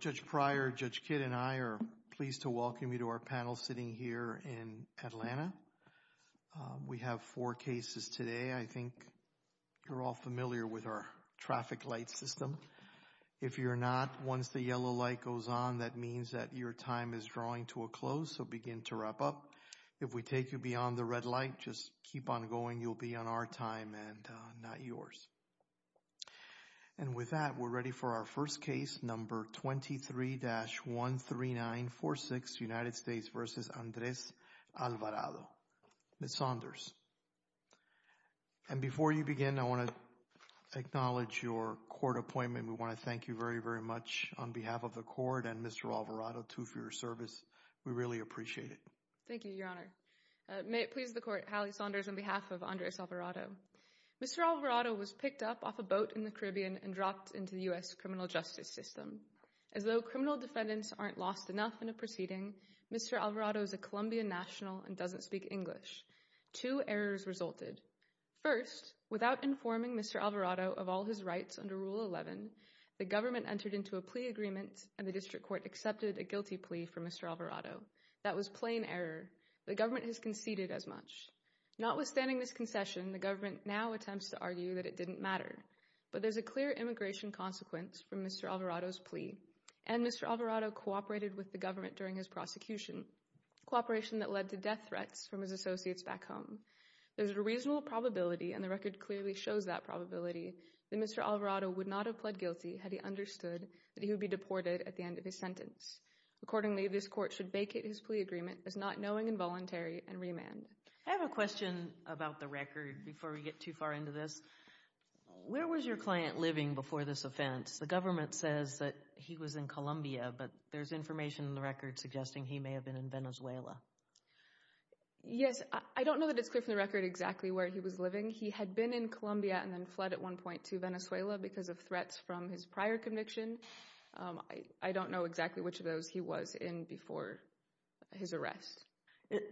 Judge Pryor, Judge Kidd, and I are pleased to welcome you to our panel sitting here in Atlanta. We have four cases today. I think you're all familiar with our traffic light system. If you're not, once the yellow light goes on, that means that your time is drawing to a close, so begin to wrap up. If we take you beyond the red light, just keep on going. You'll be on our time and not yours. And with that, we're ready for our first case, number 23-13946, United States v. Andres Alvarado. Ms. Saunders. And before you begin, I want to acknowledge your court appointment. We want to thank you very, very much on behalf of the court and Mr. Alvarado, too, for your service. We really appreciate it. Thank you, Your Honor. May it please the court, Hallie Saunders, on behalf of Andres Alvarado. Mr. Alvarado was picked up off a boat in the Caribbean and dropped into the U.S. criminal justice system. As though criminal defendants aren't lost enough in a proceeding, Mr. Alvarado is a Colombian national and doesn't speak English. Two errors resulted. First, without informing Mr. Alvarado of all his rights under Rule 11, the government entered into a plea agreement and the district court accepted a guilty plea for Mr. Alvarado. That was plain error. The government has conceded as much. Notwithstanding this concession, the government now attempts to argue that it didn't matter. But there's a clear immigration consequence from Mr. Alvarado's plea. And Mr. Alvarado cooperated with the government during his prosecution, cooperation that led to death threats from his associates back home. There's a reasonable probability, and the record clearly shows that probability, that Mr. Alvarado would not have pled guilty had he understood that he would be deported at the end of his sentence. Accordingly, this court should vacate his plea agreement as not knowing involuntary and remand. I have a question about the record before we get too far into this. Where was your client living before this offense? The government says that he was in Colombia, but there's information in the record suggesting he may have been in Venezuela. Yes, I don't know that it's clear from the record exactly where he was living. He had been in Colombia and then fled at one point to Venezuela because of threats from his prior conviction. I don't know exactly which of those he was in before his arrest.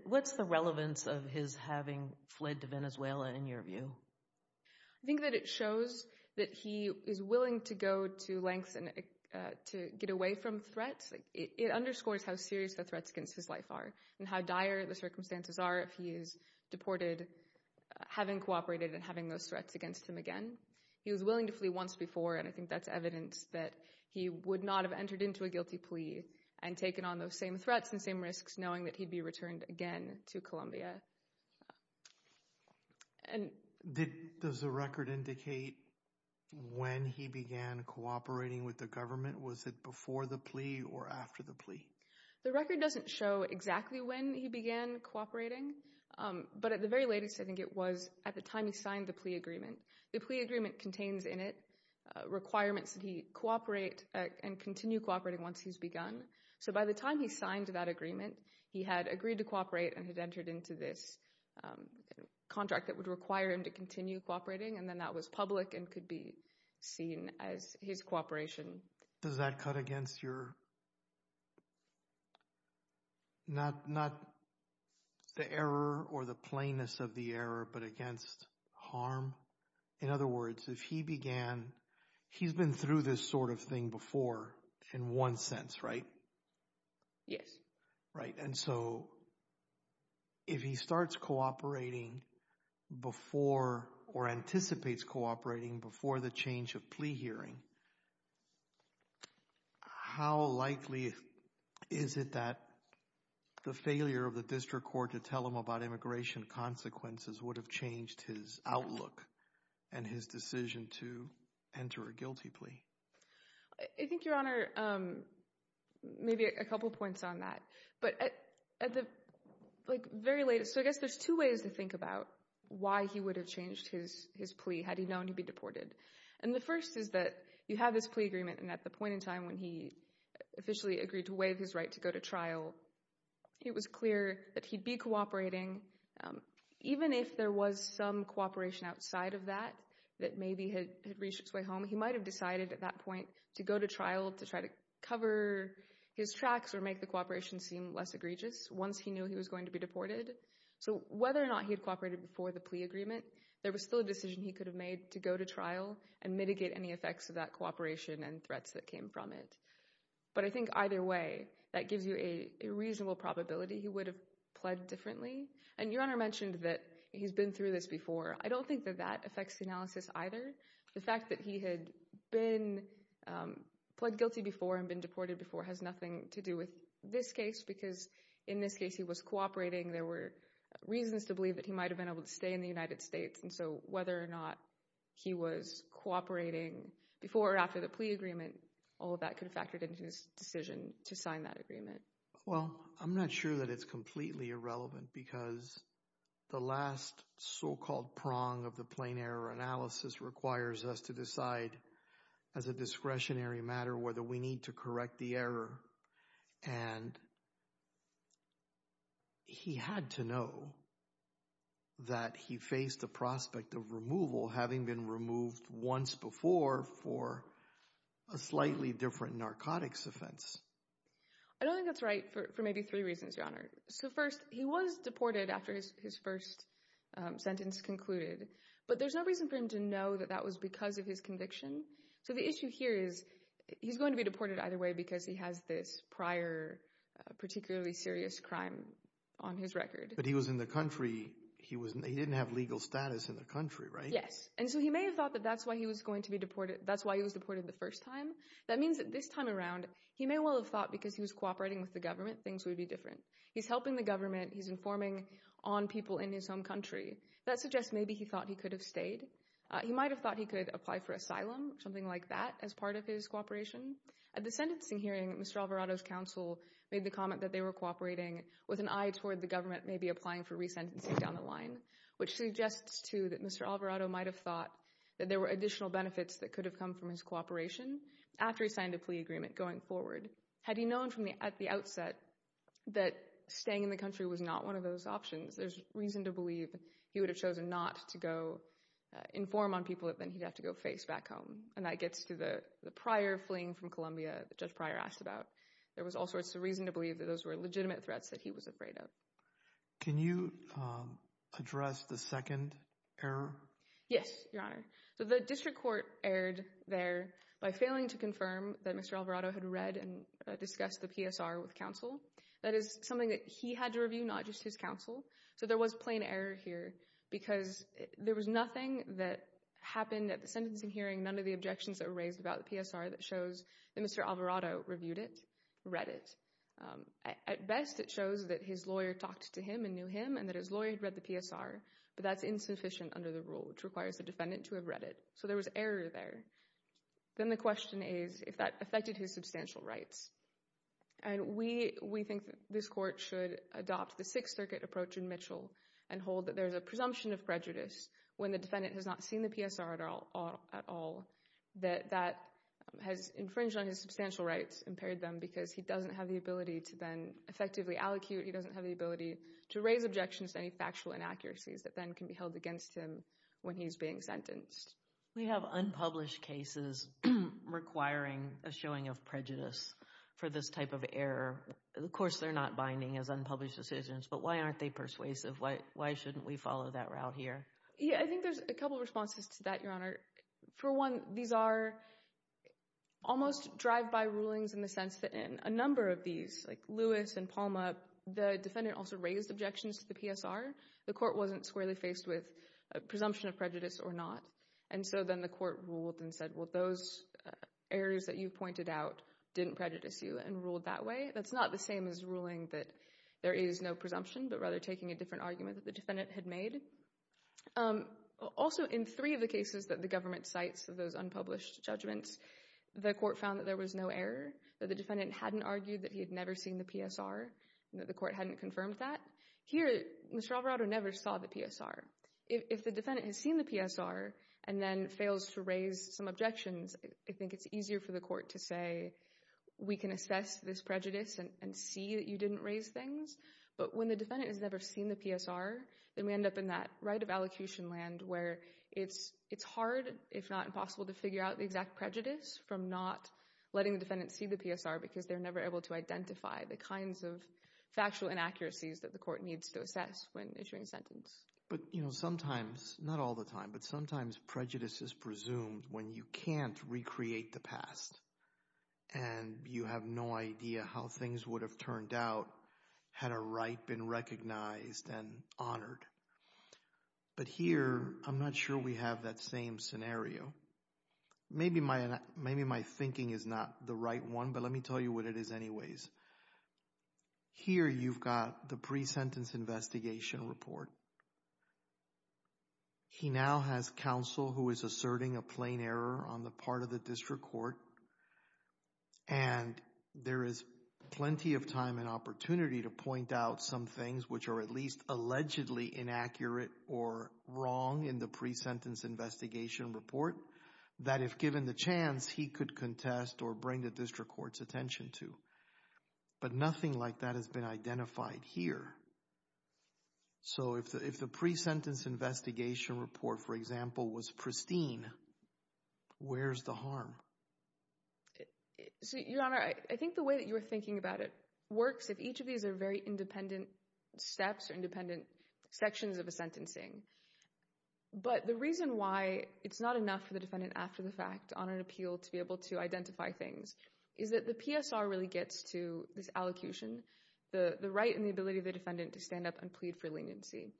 What's the relevance of his having fled to Venezuela in your view? I think that it shows that he is willing to go to lengths to get away from threats. It underscores how serious the threats against his life are and how dire the circumstances are if he is deported, having cooperated and having those threats against him again. He was willing to flee once before and I think that's evidence that he would not have entered into a guilty plea and taken on those same threats and same risks knowing that he'd be returned again to Colombia. Does the record indicate when he began cooperating with the government? Was it before the plea or after the plea? The record doesn't show exactly when he began cooperating, but at the very latest I think it was at the time he signed the plea agreement. The plea agreement contains in it requirements that he cooperate and continue cooperating once he's begun. So by the time he signed that agreement, he had agreed to cooperate and had entered into this contract that would require him to continue cooperating and then that was public and could be seen as his cooperation. Does that cut against your, not the error or the plainness of the error, but against harm? In other words, if he began, he's been through this sort of thing before in one sense, right? Yes. Right, and so if he starts cooperating before or anticipates cooperating before the change of plea hearing, how likely is it that the failure of the district court to tell him about immigration consequences would have changed his outlook and his decision to enter a guilty plea? I think, Your Honor, maybe a couple points on that, but at the very latest, so I guess there's two ways to think about why he would have changed his plea had he been deported. And the first is that you have this plea agreement and at the point in time when he officially agreed to waive his right to go to trial, it was clear that he'd be cooperating, even if there was some cooperation outside of that that maybe had reached its way home, he might have decided at that point to go to trial to try to cover his tracks or make the cooperation seem less egregious once he knew he was going to be deported. So whether or not he cooperated before the plea agreement, there was still a decision he could have made to go to trial and mitigate any effects of that cooperation and threats that came from it. But I think either way, that gives you a reasonable probability he would have pled differently. And Your Honor mentioned that he's been through this before. I don't think that that affects the analysis either. The fact that he had been pled guilty before and been deported before has nothing to do with this case, because in this case he was cooperating. There were reasons to believe that he might have been able to stay in the United States. And so whether or not he was cooperating before or after the plea agreement, all of that could have factored into his decision to sign that agreement. Well, I'm not sure that it's completely irrelevant because the last so-called prong of the plain error analysis requires us to decide as a discretionary matter whether we need to correct the error. And he had to know that he faced the prospect of removal having been removed once before for a slightly different narcotics offense. I don't think that's right for maybe three reasons, Your Honor. So first, he was deported after his first sentence concluded, but there's no reason for him to know that that was because of his conviction. So the issue here is he's going to be deported either way because he has this prior particularly serious crime on his record. But he was in the country. He didn't have legal status in the country, right? Yes. And so he may have thought that that's why he was going to be deported. That's why he was deported the first time. That means that this time around, he may well have thought because he was cooperating with the government, things would be different. He's helping the government. He's informing on people in his home country. That suggests maybe he thought he could have stayed. He might have thought he could apply for asylum, something like that, as part of his cooperation. At the sentencing hearing, Mr. Alvarado's counsel made the comment that they were cooperating with an eye toward the government maybe applying for resentencing down the line, which suggests, too, that Mr. Alvarado might have thought that there were additional benefits that could have come from his cooperation after he signed a plea agreement going forward. Had he known at the outset that staying in the country was not one of those options, there's reason to believe he would have chosen not to go inform on people that then he'd have to go face back home. And that gets to the Pryor fleeing from Columbia that Judge Pryor asked about. There was all sorts of reason to believe that those were legitimate threats that he was afraid of. Can you address the second error? Yes, Your Honor. So the district court erred there by failing to confirm that Mr. Alvarado had read and discussed the PSR with counsel. That is something that he had to review, not just his counsel. So there was plain error here because there was nothing that happened at sentencing hearing, none of the objections that were raised about the PSR that shows that Mr. Alvarado reviewed it, read it. At best, it shows that his lawyer talked to him and knew him and that his lawyer had read the PSR, but that's insufficient under the rule, which requires the defendant to have read it. So there was error there. Then the question is if that affected his substantial rights. And we think this court should adopt the Sixth Circuit approach in Mitchell and hold that there's a presumption of prejudice when the defendant has not seen the PSR at all that that has infringed on his substantial rights, impaired them, because he doesn't have the ability to then effectively allocute. He doesn't have the ability to raise objections to any factual inaccuracies that then can be held against him when he's being sentenced. We have unpublished cases requiring a showing of prejudice for this type of error. Of course, they're not binding as unpublished decisions, but why aren't they persuasive? Why shouldn't we follow that route here? Yeah, I think there's a couple responses to that, Your Honor. For one, these are almost drive-by rulings in the sense that in a number of these, like Lewis and Palma, the defendant also raised objections to the PSR. The court wasn't squarely faced with a presumption of prejudice or not. And so then the court ruled and said, well, those errors that you pointed out didn't prejudice you and ruled that way. That's not the same as ruling that there is no presumption, but rather taking a different argument that the defendant had made. Also, in three of the cases that the government cites of those unpublished judgments, the court found that there was no error, that the defendant hadn't argued that he had never seen the PSR, that the court hadn't confirmed that. Here, Mr. Alvarado never saw the PSR. If the defendant has seen the PSR and then fails to raise some objections, I think it's easier for the court to say, we can assess this prejudice and see that we didn't raise things. But when the defendant has never seen the PSR, then we end up in that right of allocation land where it's hard, if not impossible, to figure out the exact prejudice from not letting the defendant see the PSR because they're never able to identify the kinds of factual inaccuracies that the court needs to assess when issuing a sentence. But, you know, sometimes, not all the time, but sometimes prejudice is presumed when you can't recreate the past and you have no idea how things would have turned out had a right been recognized and honored. But here, I'm not sure we have that same scenario. Maybe my thinking is not the right one, but let me tell you what it is anyways. Here, you've got the pre-sentence investigation report. He now has counsel who is asserting a plain error on the part of the district court, and there is plenty of time and opportunity to point out some things which are at least allegedly inaccurate or wrong in the pre-sentence investigation report that, if given the chance, he could contest or bring the district court's attention to. But nothing like that has been identified here. So if the pre-sentence investigation report, for example, was pristine, where's the harm? So, Your Honor, I think the way that you're thinking about it works if each of these are very independent steps or independent sections of a sentencing. But the reason why it's not enough for the defendant after the fact on an appeal to be able to identify things is that the PSR really gets to this allocution, the right and the ability of the defendant to stand up and plead for leniency.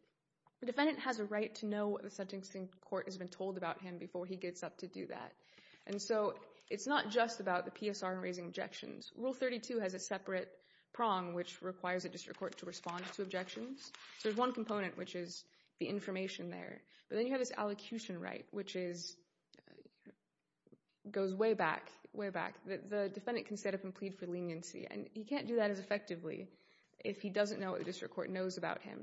The defendant has a right to know what the sentencing court has been told about him before he gets up to do that. And so it's not just about the PSR and raising objections. Rule 32 has a separate prong which requires the district court to respond to objections. So there's one component, which is the information there. But then you have this allocution right, which goes way back, way back. The defendant can stand up and plead for leniency, and he can't do that as effectively if he doesn't know what the district court knows about him.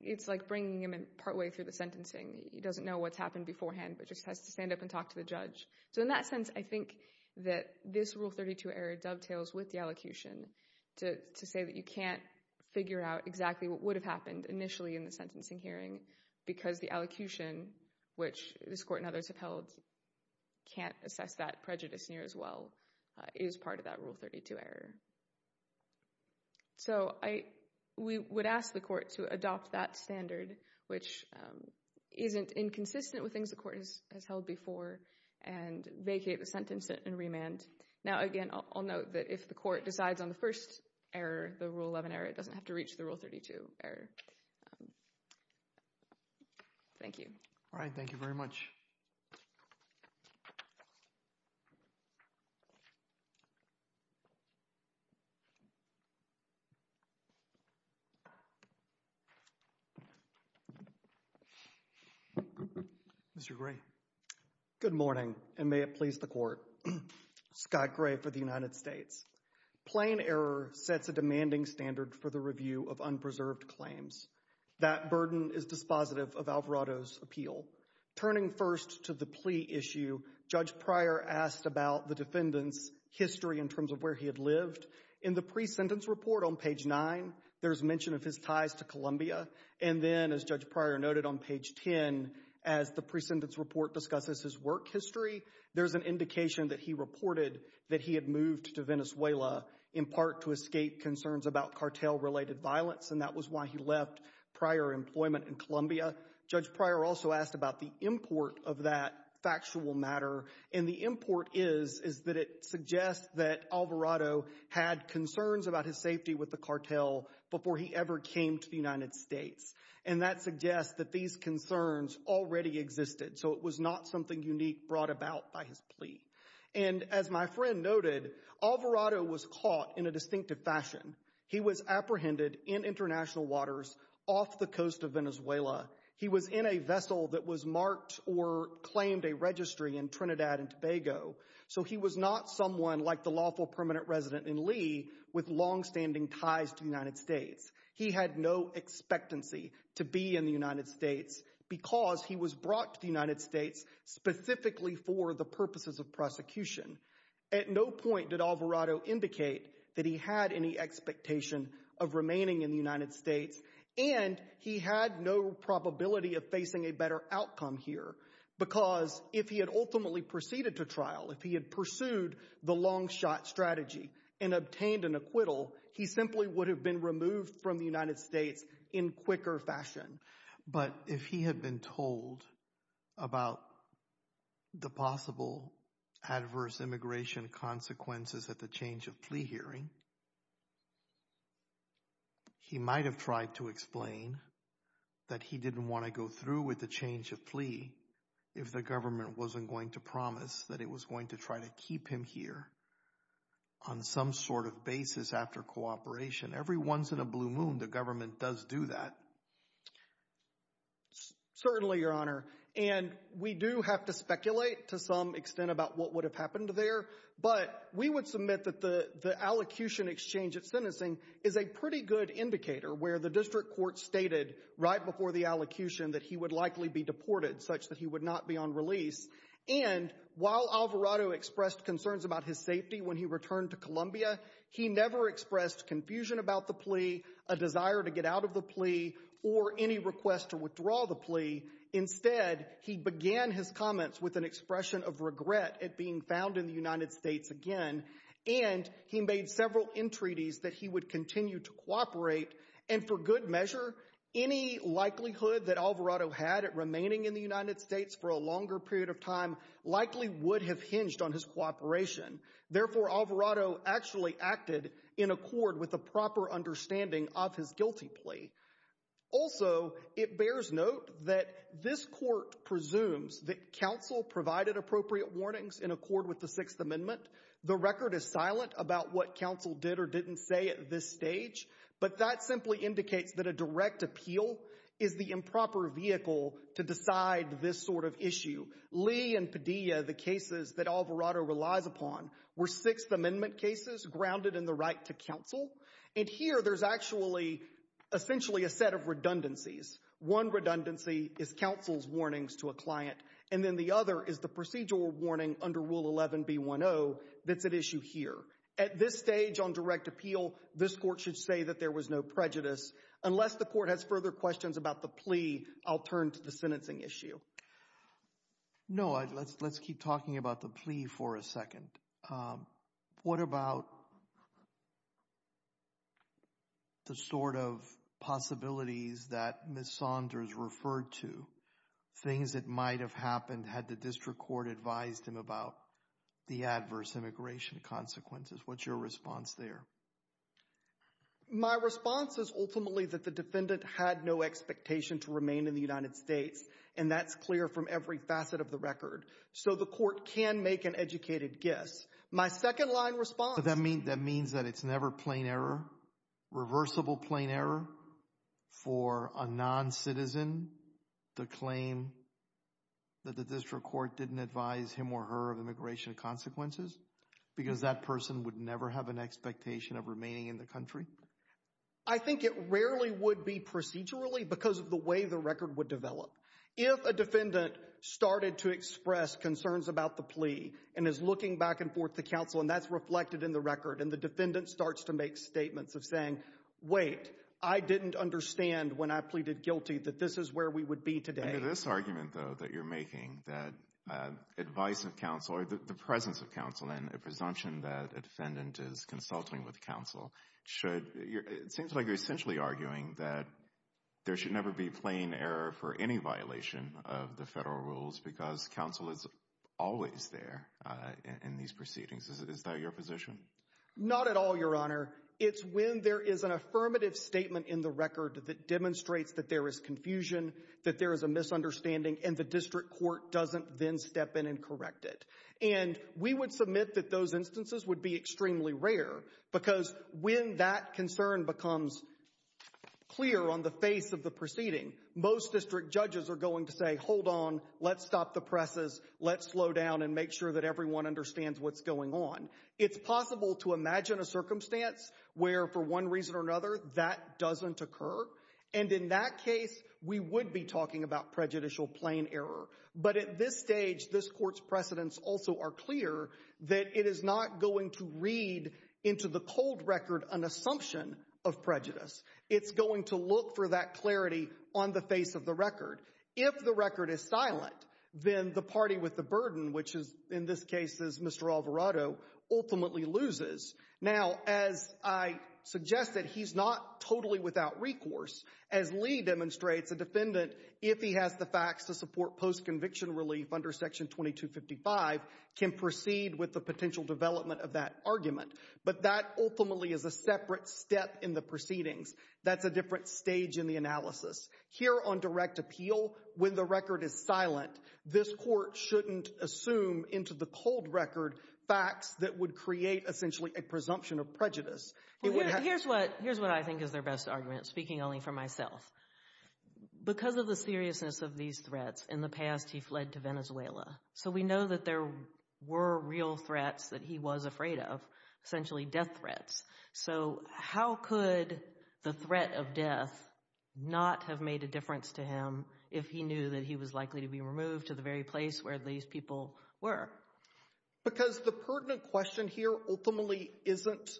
It's like bringing him in partway through the sentencing. He doesn't know what's happened beforehand, but just has to stand up and talk to the judge. So in that sense, I think that this Rule 32 error dovetails with the allocution to say that you can't figure out exactly what would have happened initially in the sentencing hearing because the allocution, which this court and others have held, can't assess that prejudice near as well, is part of that Rule 32 error. So we would ask the court to adopt that standard, which isn't inconsistent with things the court has held before, and vacate the sentence and remand. Now, again, I'll note that if the court decides on the first error, the Rule 11 error, it doesn't have to reach the Rule 32 error. Thank you. All right. Thank you very much. Mr. Gray. Good morning, and may it please the court. Scott Gray for the United States. Plain error sets a demanding standard for the review of unpreserved claims. That burden is dispositive of Alvarado's appeal. Turning first to the plea issue, Judge Pryor asked about the defendant's history in terms of where he had lived. In the pre-sentence report on page 9, there's mention of his ties to Colombia. And then, as Judge Pryor noted on page 10, as the pre-sentence report discusses his work history, there's an indication that he reported that he had moved to Venezuela in part to escape concerns about cartel-related violence, and that was why he left prior employment in Colombia. Judge Pryor also asked about the import of that factual matter, and the import is that it suggests that Alvarado had concerns about his safety with the cartel before he ever came to the United States. And that suggests that these concerns already existed, so it was not something unique brought about by his plea. And as my friend noted, Alvarado was caught in a distinctive fashion. He was apprehended in international waters off the coast of Venezuela. He was in a vessel that was marked or claimed a registry in Trinidad and Tobago. So he was not someone like the lawful permanent resident in Lee with long-standing ties to the United States. He had no expectancy to be in the United States because he was brought to the United States specifically for the purposes of prosecution. At no point did Alvarado indicate that he had any expectation of remaining in the United States, and he had no probability of facing a better outcome here, because if he had ultimately proceeded to trial, if he had pursued the long-shot strategy and obtained an acquittal, he simply would have been removed from the United States in quicker fashion. But if he had been told about the possible adverse immigration consequences at the change of plea hearing, he might have tried to explain that he didn't want to go through with the change of plea if the government wasn't going to promise that it was going to try to keep him here on some sort of basis after cooperation. Every once in a blue moon, the government does do that. Certainly, Your Honor. And we do have to speculate to some extent about what would have happened there, but we would submit that the allocution exchange at sentencing is a pretty good indicator where the district court stated right before the allocution that he would likely be deported, such that he would not be on release. And while Alvarado expressed concerns about his safety when he returned to Columbia, he never expressed confusion about the plea, a desire to get out of the plea, or any request to withdraw the plea. Instead, he began his comments with an expression of regret at being found in the United States again, and he made several entreaties that he would continue to cooperate. And for good measure, any likelihood that Alvarado had at remaining in the United States for a longer period of time likely would have hinged on his cooperation. Therefore, Alvarado actually acted in accord with a proper understanding of his guilty plea. Also, it bears note that this court presumes that counsel provided appropriate warnings in accord with the Sixth Amendment. The record is silent about what counsel did or didn't say at this stage, but that simply indicates that a direct appeal is the improper vehicle to decide this sort of issue. Lee and Padilla, the cases that Alvarado relies upon, were Sixth Amendment cases grounded in the right to counsel, and here there's actually essentially a set of redundancies. One redundancy is counsel's warnings to a client, and then the other is the procedural warning under Rule 11B10 that's at issue here. At this stage on direct appeal, this court should say that there was no prejudice. Unless the court has further questions about the plea, I'll turn to the counsel. No, let's keep talking about the plea for a second. What about the sort of possibilities that Ms. Saunders referred to, things that might have happened had the district court advised him about the adverse immigration consequences? What's your response there? My response is ultimately that the defendant had no expectation to remain in the United States, and that's clear from every facet of the record, so the court can make an educated guess. My second line response... That means that it's never plain error, reversible plain error, for a non-citizen to claim that the district court didn't advise him or her of immigration consequences because that person would never have an expectation of remaining in the country? I think it rarely would be procedurally because of the way the record would develop. If a defendant started to express concerns about the plea and is looking back and forth to counsel, and that's reflected in the record, and the defendant starts to make statements of saying, wait, I didn't understand when I pleaded guilty that this is where we would be today. Under this argument, though, that you're making, that advice of counsel or the presence of counsel and a defendant is consulting with counsel, it seems like you're essentially arguing that there should never be plain error for any violation of the federal rules because counsel is always there in these proceedings. Is that your position? Not at all, Your Honor. It's when there is an affirmative statement in the record that demonstrates that there is confusion, that there is a misunderstanding, and the district court doesn't then step in and correct it. And we would submit that those instances would be extremely rare because when that concern becomes clear on the face of the proceeding, most district judges are going to say, hold on, let's stop the presses, let's slow down and make sure that everyone understands what's going on. It's possible to imagine a circumstance where, for one reason or another, that doesn't occur, and in that case, we would be talking about prejudicial plain error. But at this stage, this Court's precedents also are clear that it is not going to read into the cold record an assumption of prejudice. It's going to look for that clarity on the face of the record. If the record is silent, then the party with the burden, which is in this case is Mr. Alvarado, ultimately loses. Now, as I suggested, he's not totally without recourse. As Lee demonstrates, a defendant, if he has the facts to support post-conviction relief under Section 2255, can proceed with the potential development of that argument. But that ultimately is a separate step in the proceedings. That's a different stage in the analysis. Here on direct appeal, when the record is silent, this Court shouldn't assume into the cold record facts that would create essentially a presumption of prejudice. Here's what I think is their best argument, speaking only for myself. Because of the seriousness of these threats, in the past he fled to Venezuela. So we know that there were real threats that he was afraid of, essentially death threats. So how could the threat of death not have made a difference to him if he knew that he was likely to be removed to the very place where these people were? Because the pertinent question here ultimately isn't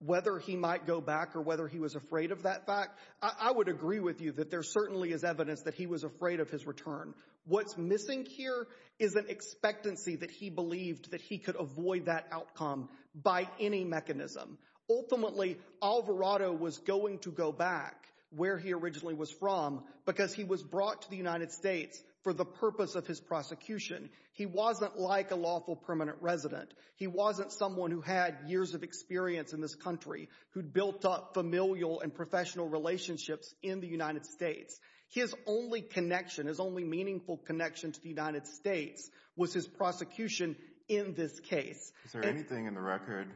whether he might go back or whether he was afraid of that fact. I would agree with you that there certainly is evidence that he was afraid of his return. What's missing here is an expectancy that he believed that he could avoid that outcome by any mechanism. Ultimately, Alvarado was going to go back where he originally was from because he was brought to the United States for the purpose of his prosecution. He wasn't like a lawful permanent resident. He wasn't someone who had years of experience in this country who'd built up familial and professional relationships in the United States. His only connection, his only meaningful connection to the United States was his prosecution in this case. Is there anything in the record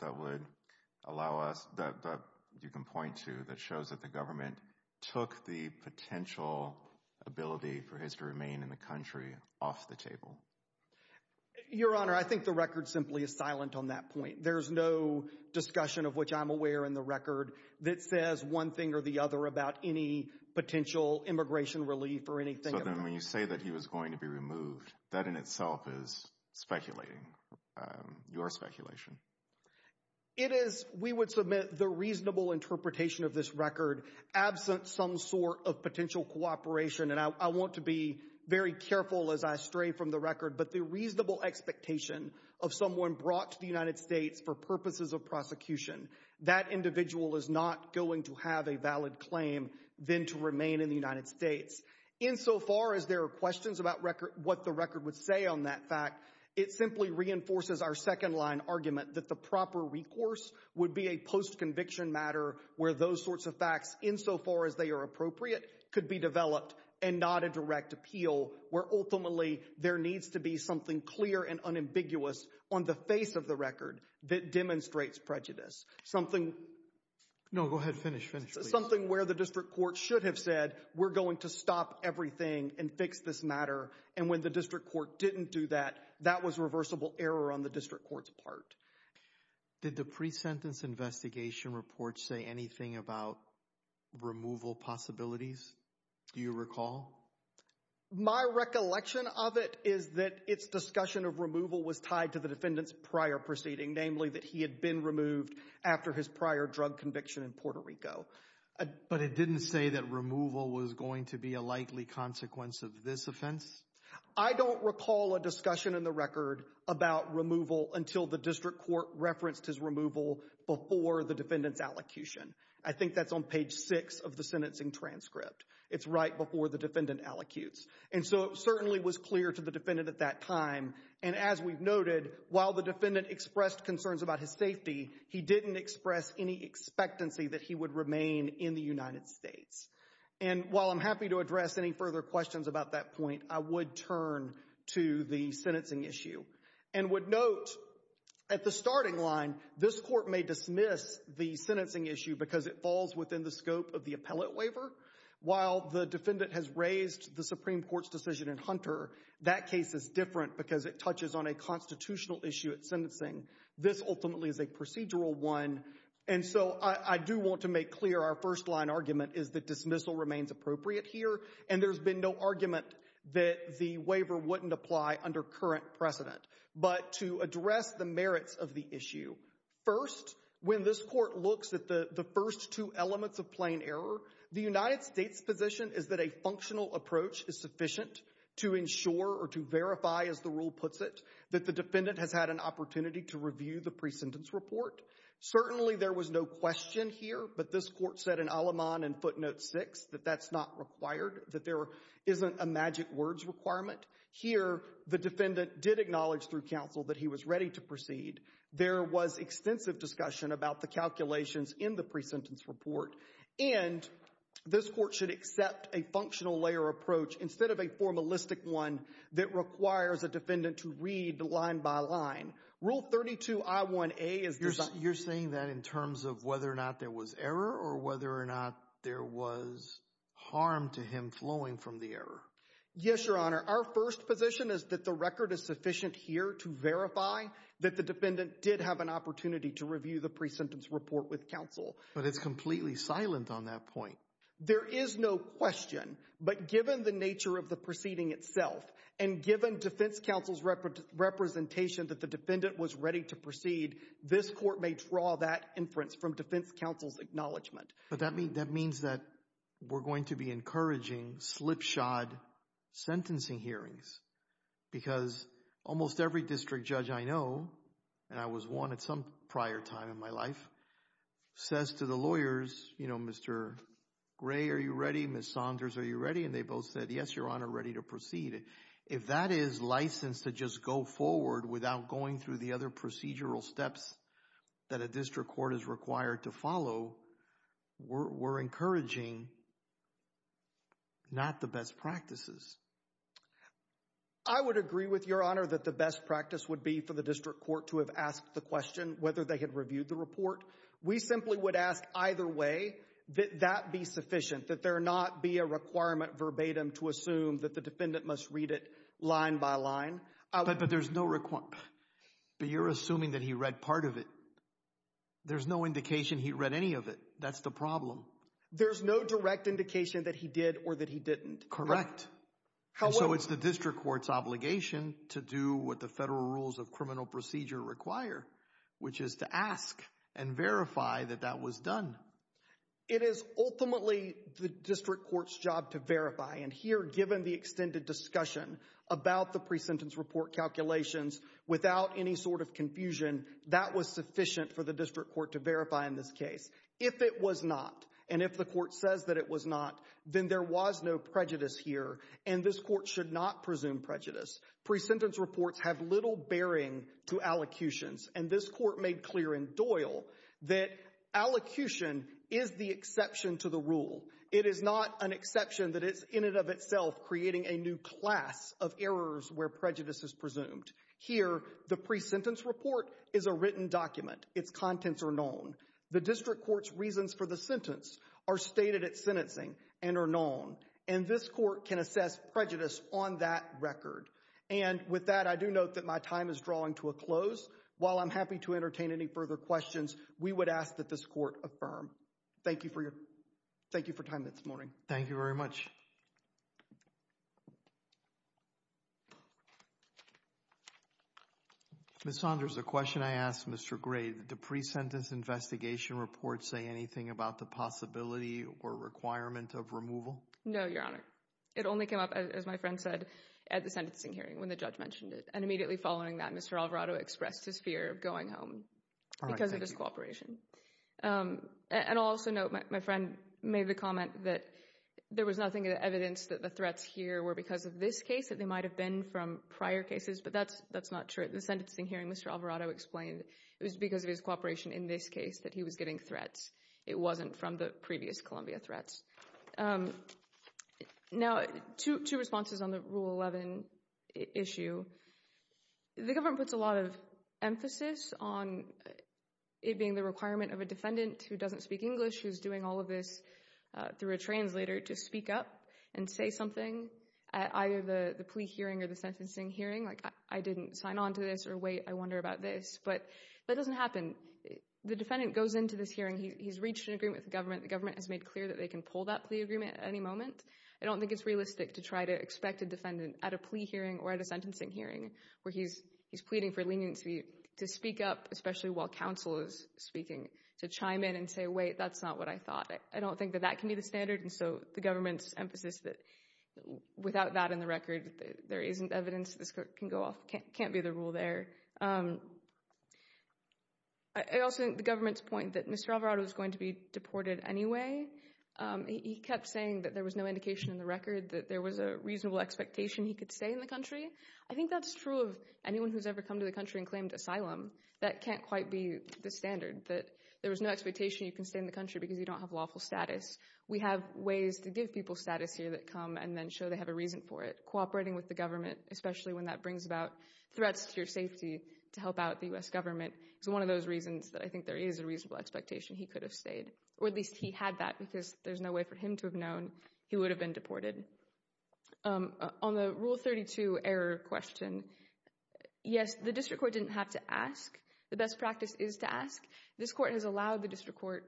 that would allow us, that you can point to, that shows that the government took the potential ability for his to remain in the country off the table? Your Honor, I think the record simply is silent on that point. There's no discussion of which I'm aware in the record that says one thing or the other about any potential immigration relief or anything. So then when you say that he was going to be removed, that in itself is speculating, your speculation. It is, we would submit the reasonable interpretation of this record absent some sort of potential cooperation, and I want to be very careful as I from the record, but the reasonable expectation of someone brought to the United States for purposes of prosecution, that individual is not going to have a valid claim than to remain in the United States. Insofar as there are questions about what the record would say on that fact, it simply reinforces our second line argument that the proper recourse would be a post-conviction matter where those sorts of facts, insofar as they are appropriate, could be developed and not a direct appeal where ultimately there needs to be something clear and unambiguous on the face of the record that demonstrates prejudice. Something... No, go ahead, finish, finish. Something where the district court should have said, we're going to stop everything and fix this matter, and when the district court didn't do that, that was reversible error on the district court's part. Did the pre-sentence investigation reports say anything about removal possibilities? Do you recall? My recollection of it is that its discussion of removal was tied to the defendant's prior proceeding, namely that he had been removed after his prior drug conviction in Puerto Rico. But it didn't say that removal was going to be a likely consequence of this offense? I don't recall a discussion in the record about removal until the district court referenced his removal before the defendant's allocution. I think that's on page 6 of the sentencing transcript. It's right before the defendant allocutes. And so it certainly was clear to the defendant at that time, and as we've noted, while the defendant expressed concerns about his safety, he didn't express any expectancy that he would remain in the United States. And while I'm happy to address any further questions about that point, I would turn to the sentencing issue and would note at the starting line, this court may dismiss the sentencing issue because it falls within the scope of the appellate waiver. While the defendant has raised the Supreme Court's decision in Hunter, that case is different because it touches on a constitutional issue at sentencing. This ultimately is a procedural one. And so I do want to make clear our first-line argument is that dismissal remains appropriate here, and there's been no argument that the waiver wouldn't apply under current precedent. But to address the merits of the issue, first, when this court looks at the first two elements of plain error, the United States' position is that a functional approach is sufficient to ensure or to verify, as the rule puts it, that the defendant has had an opportunity to review the presentence report. Certainly there was no question here, but this court said in Aleman and footnote 6 that that's not required, that there isn't a magic words requirement. Here, the defendant did acknowledge through counsel that he was ready to proceed. There was extensive discussion about the calculations in the presentence report, and this court should accept a functional-layer approach instead of a formalistic one that requires a defendant to read line by line. Rule 32I1A is designed— You're saying that in terms of whether or not there was error or whether or not there was harm to him flowing from the error? Yes, Your Honor. Our first position is that the record is sufficient here to verify that the But it's completely silent on that point. There is no question, but given the nature of the proceeding itself and given defense counsel's representation that the defendant was ready to proceed, this court may draw that inference from defense counsel's acknowledgment. But that means that we're going to be encouraging slipshod sentencing hearings because almost every judge I know—and I was one at some prior time in my life—says to the lawyers, you know, Mr. Gray, are you ready? Ms. Saunders, are you ready? And they both said, yes, Your Honor, ready to proceed. If that is licensed to just go forward without going through the other procedural steps that a district court is required to follow, we're encouraging not the best practices. I would agree with Your Honor that the best practice would be for the district court to have asked the question whether they had reviewed the report. We simply would ask either way that that be sufficient, that there not be a requirement verbatim to assume that the defendant must read it line by line. But there's no—but you're assuming that he read part of it. There's no indication he read any of it. That's the problem. There's no direct indication that he did or that he didn't. Correct. So it's the district court's obligation to do what the federal rules of criminal procedure require, which is to ask and verify that that was done. It is ultimately the district court's job to verify. And here, given the extended discussion about the pre-sentence report calculations, without any sort of confusion, that was sufficient for the district court to verify in this case. If it was not, and if the court says that it was not, then there was no prejudice here, and this court should not presume prejudice. Pre-sentence reports have little bearing to allocutions, and this court made clear in Doyle that allocution is the exception to the rule. It is not an exception that it's, in and of itself, creating a new class of errors where prejudice is presumed. Here, the pre-sentence report is a written document. Its contents are known. The district court's reasons for the sentence are stated at sentencing and are known, and this court can assess prejudice on that record. And with that, I do note that my time is drawing to a close. While I'm happy to entertain any further questions, we would ask that this court affirm. Thank you for your, thank you for time this morning. Thank you very much. Ms. Saunders, the question I asked Mr. Gray, did the pre-sentence investigation report say anything about the possibility or requirement of removal? No, Your Honor. It only came up, as my friend said, at the sentencing hearing when the judge mentioned it, and immediately following that, Mr. Alvarado expressed his fear of going home because of his cooperation. And I'll also note, my friend made the comment that there was nothing evidence that the threats here were because of this case, that they might have been from prior cases, but that's not true. At the sentencing hearing, Mr. Alvarado explained it was because of his cooperation in this case that he was getting threats. It wasn't from the previous Columbia threats. Now, two responses on the Rule 11 issue. The government puts a lot of emphasis on it being the requirement of a defendant who doesn't speak English, who's doing all of this through a translator, to speak up and say something at either the plea hearing or the sentencing hearing. Like, I didn't sign on to this, or wait, I wonder about this. But that doesn't happen. The defendant goes into this hearing. He's reached an agreement with the government. The government has made clear that they can pull that plea agreement at any moment. I don't think it's realistic to try to expect a defendant at a plea hearing or at a sentencing hearing where he's pleading for leniency to speak up, especially while counsel is speaking, to chime in and say, wait, that's not what I thought. I don't think that that can be the standard. And so the government's emphasis that without that in the record, there isn't evidence this court can go off, can't be the rule there. I also think the government's point that Mr. Alvarado is going to be deported anyway, he kept saying that there was no indication in the record that there was a reasonable expectation he could stay in the country. I think that's true of anyone who's ever come to the country and claimed asylum. That can't quite be the standard, that there was no expectation you can stay in the country because you don't have lawful status. We have ways to give people status here that come and then show they have a reason for it. Cooperating with the government, especially when that brings about threats to your safety to help out the U.S. government, is one of those reasons that I think there is a reasonable expectation he could have stayed. Or at least he had that because there's no way for him to have known he would have been deported. On the Rule 32 error question, yes, the district court didn't have to ask. The best practice is to ask. This court has allowed the district court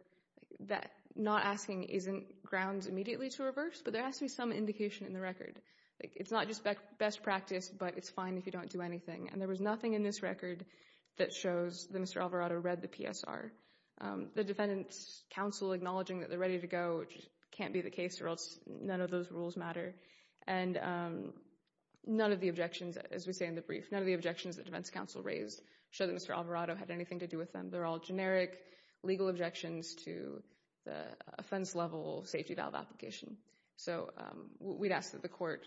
that not asking isn't grounds immediately to reverse, but there has to be some indication in the record. It's not just best practice, but it's fine if you don't do anything. And there was nothing in this record that shows that Mr. Alvarado read the PSR. The defendant's counsel acknowledging that they're ready to go, which can't be the case or else none of those rules matter. And none of the objections, as we say in the brief, none of the objections that defense counsel raised show that Mr. Alvarado had anything to do with them. They're all generic legal objections to the offense-level safety valve application. So we'd ask that the court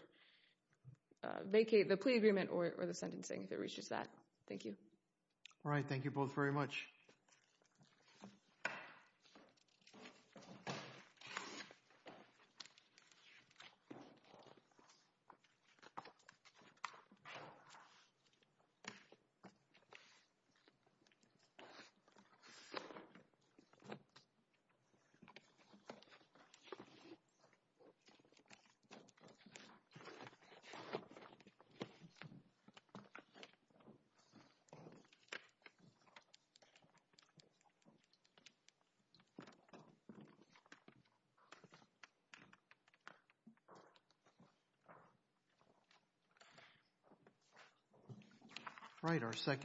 vacate the plea agreement or the sentencing if it reaches that. Thank you. All right. Thank you both very much. Thank you. All right, our second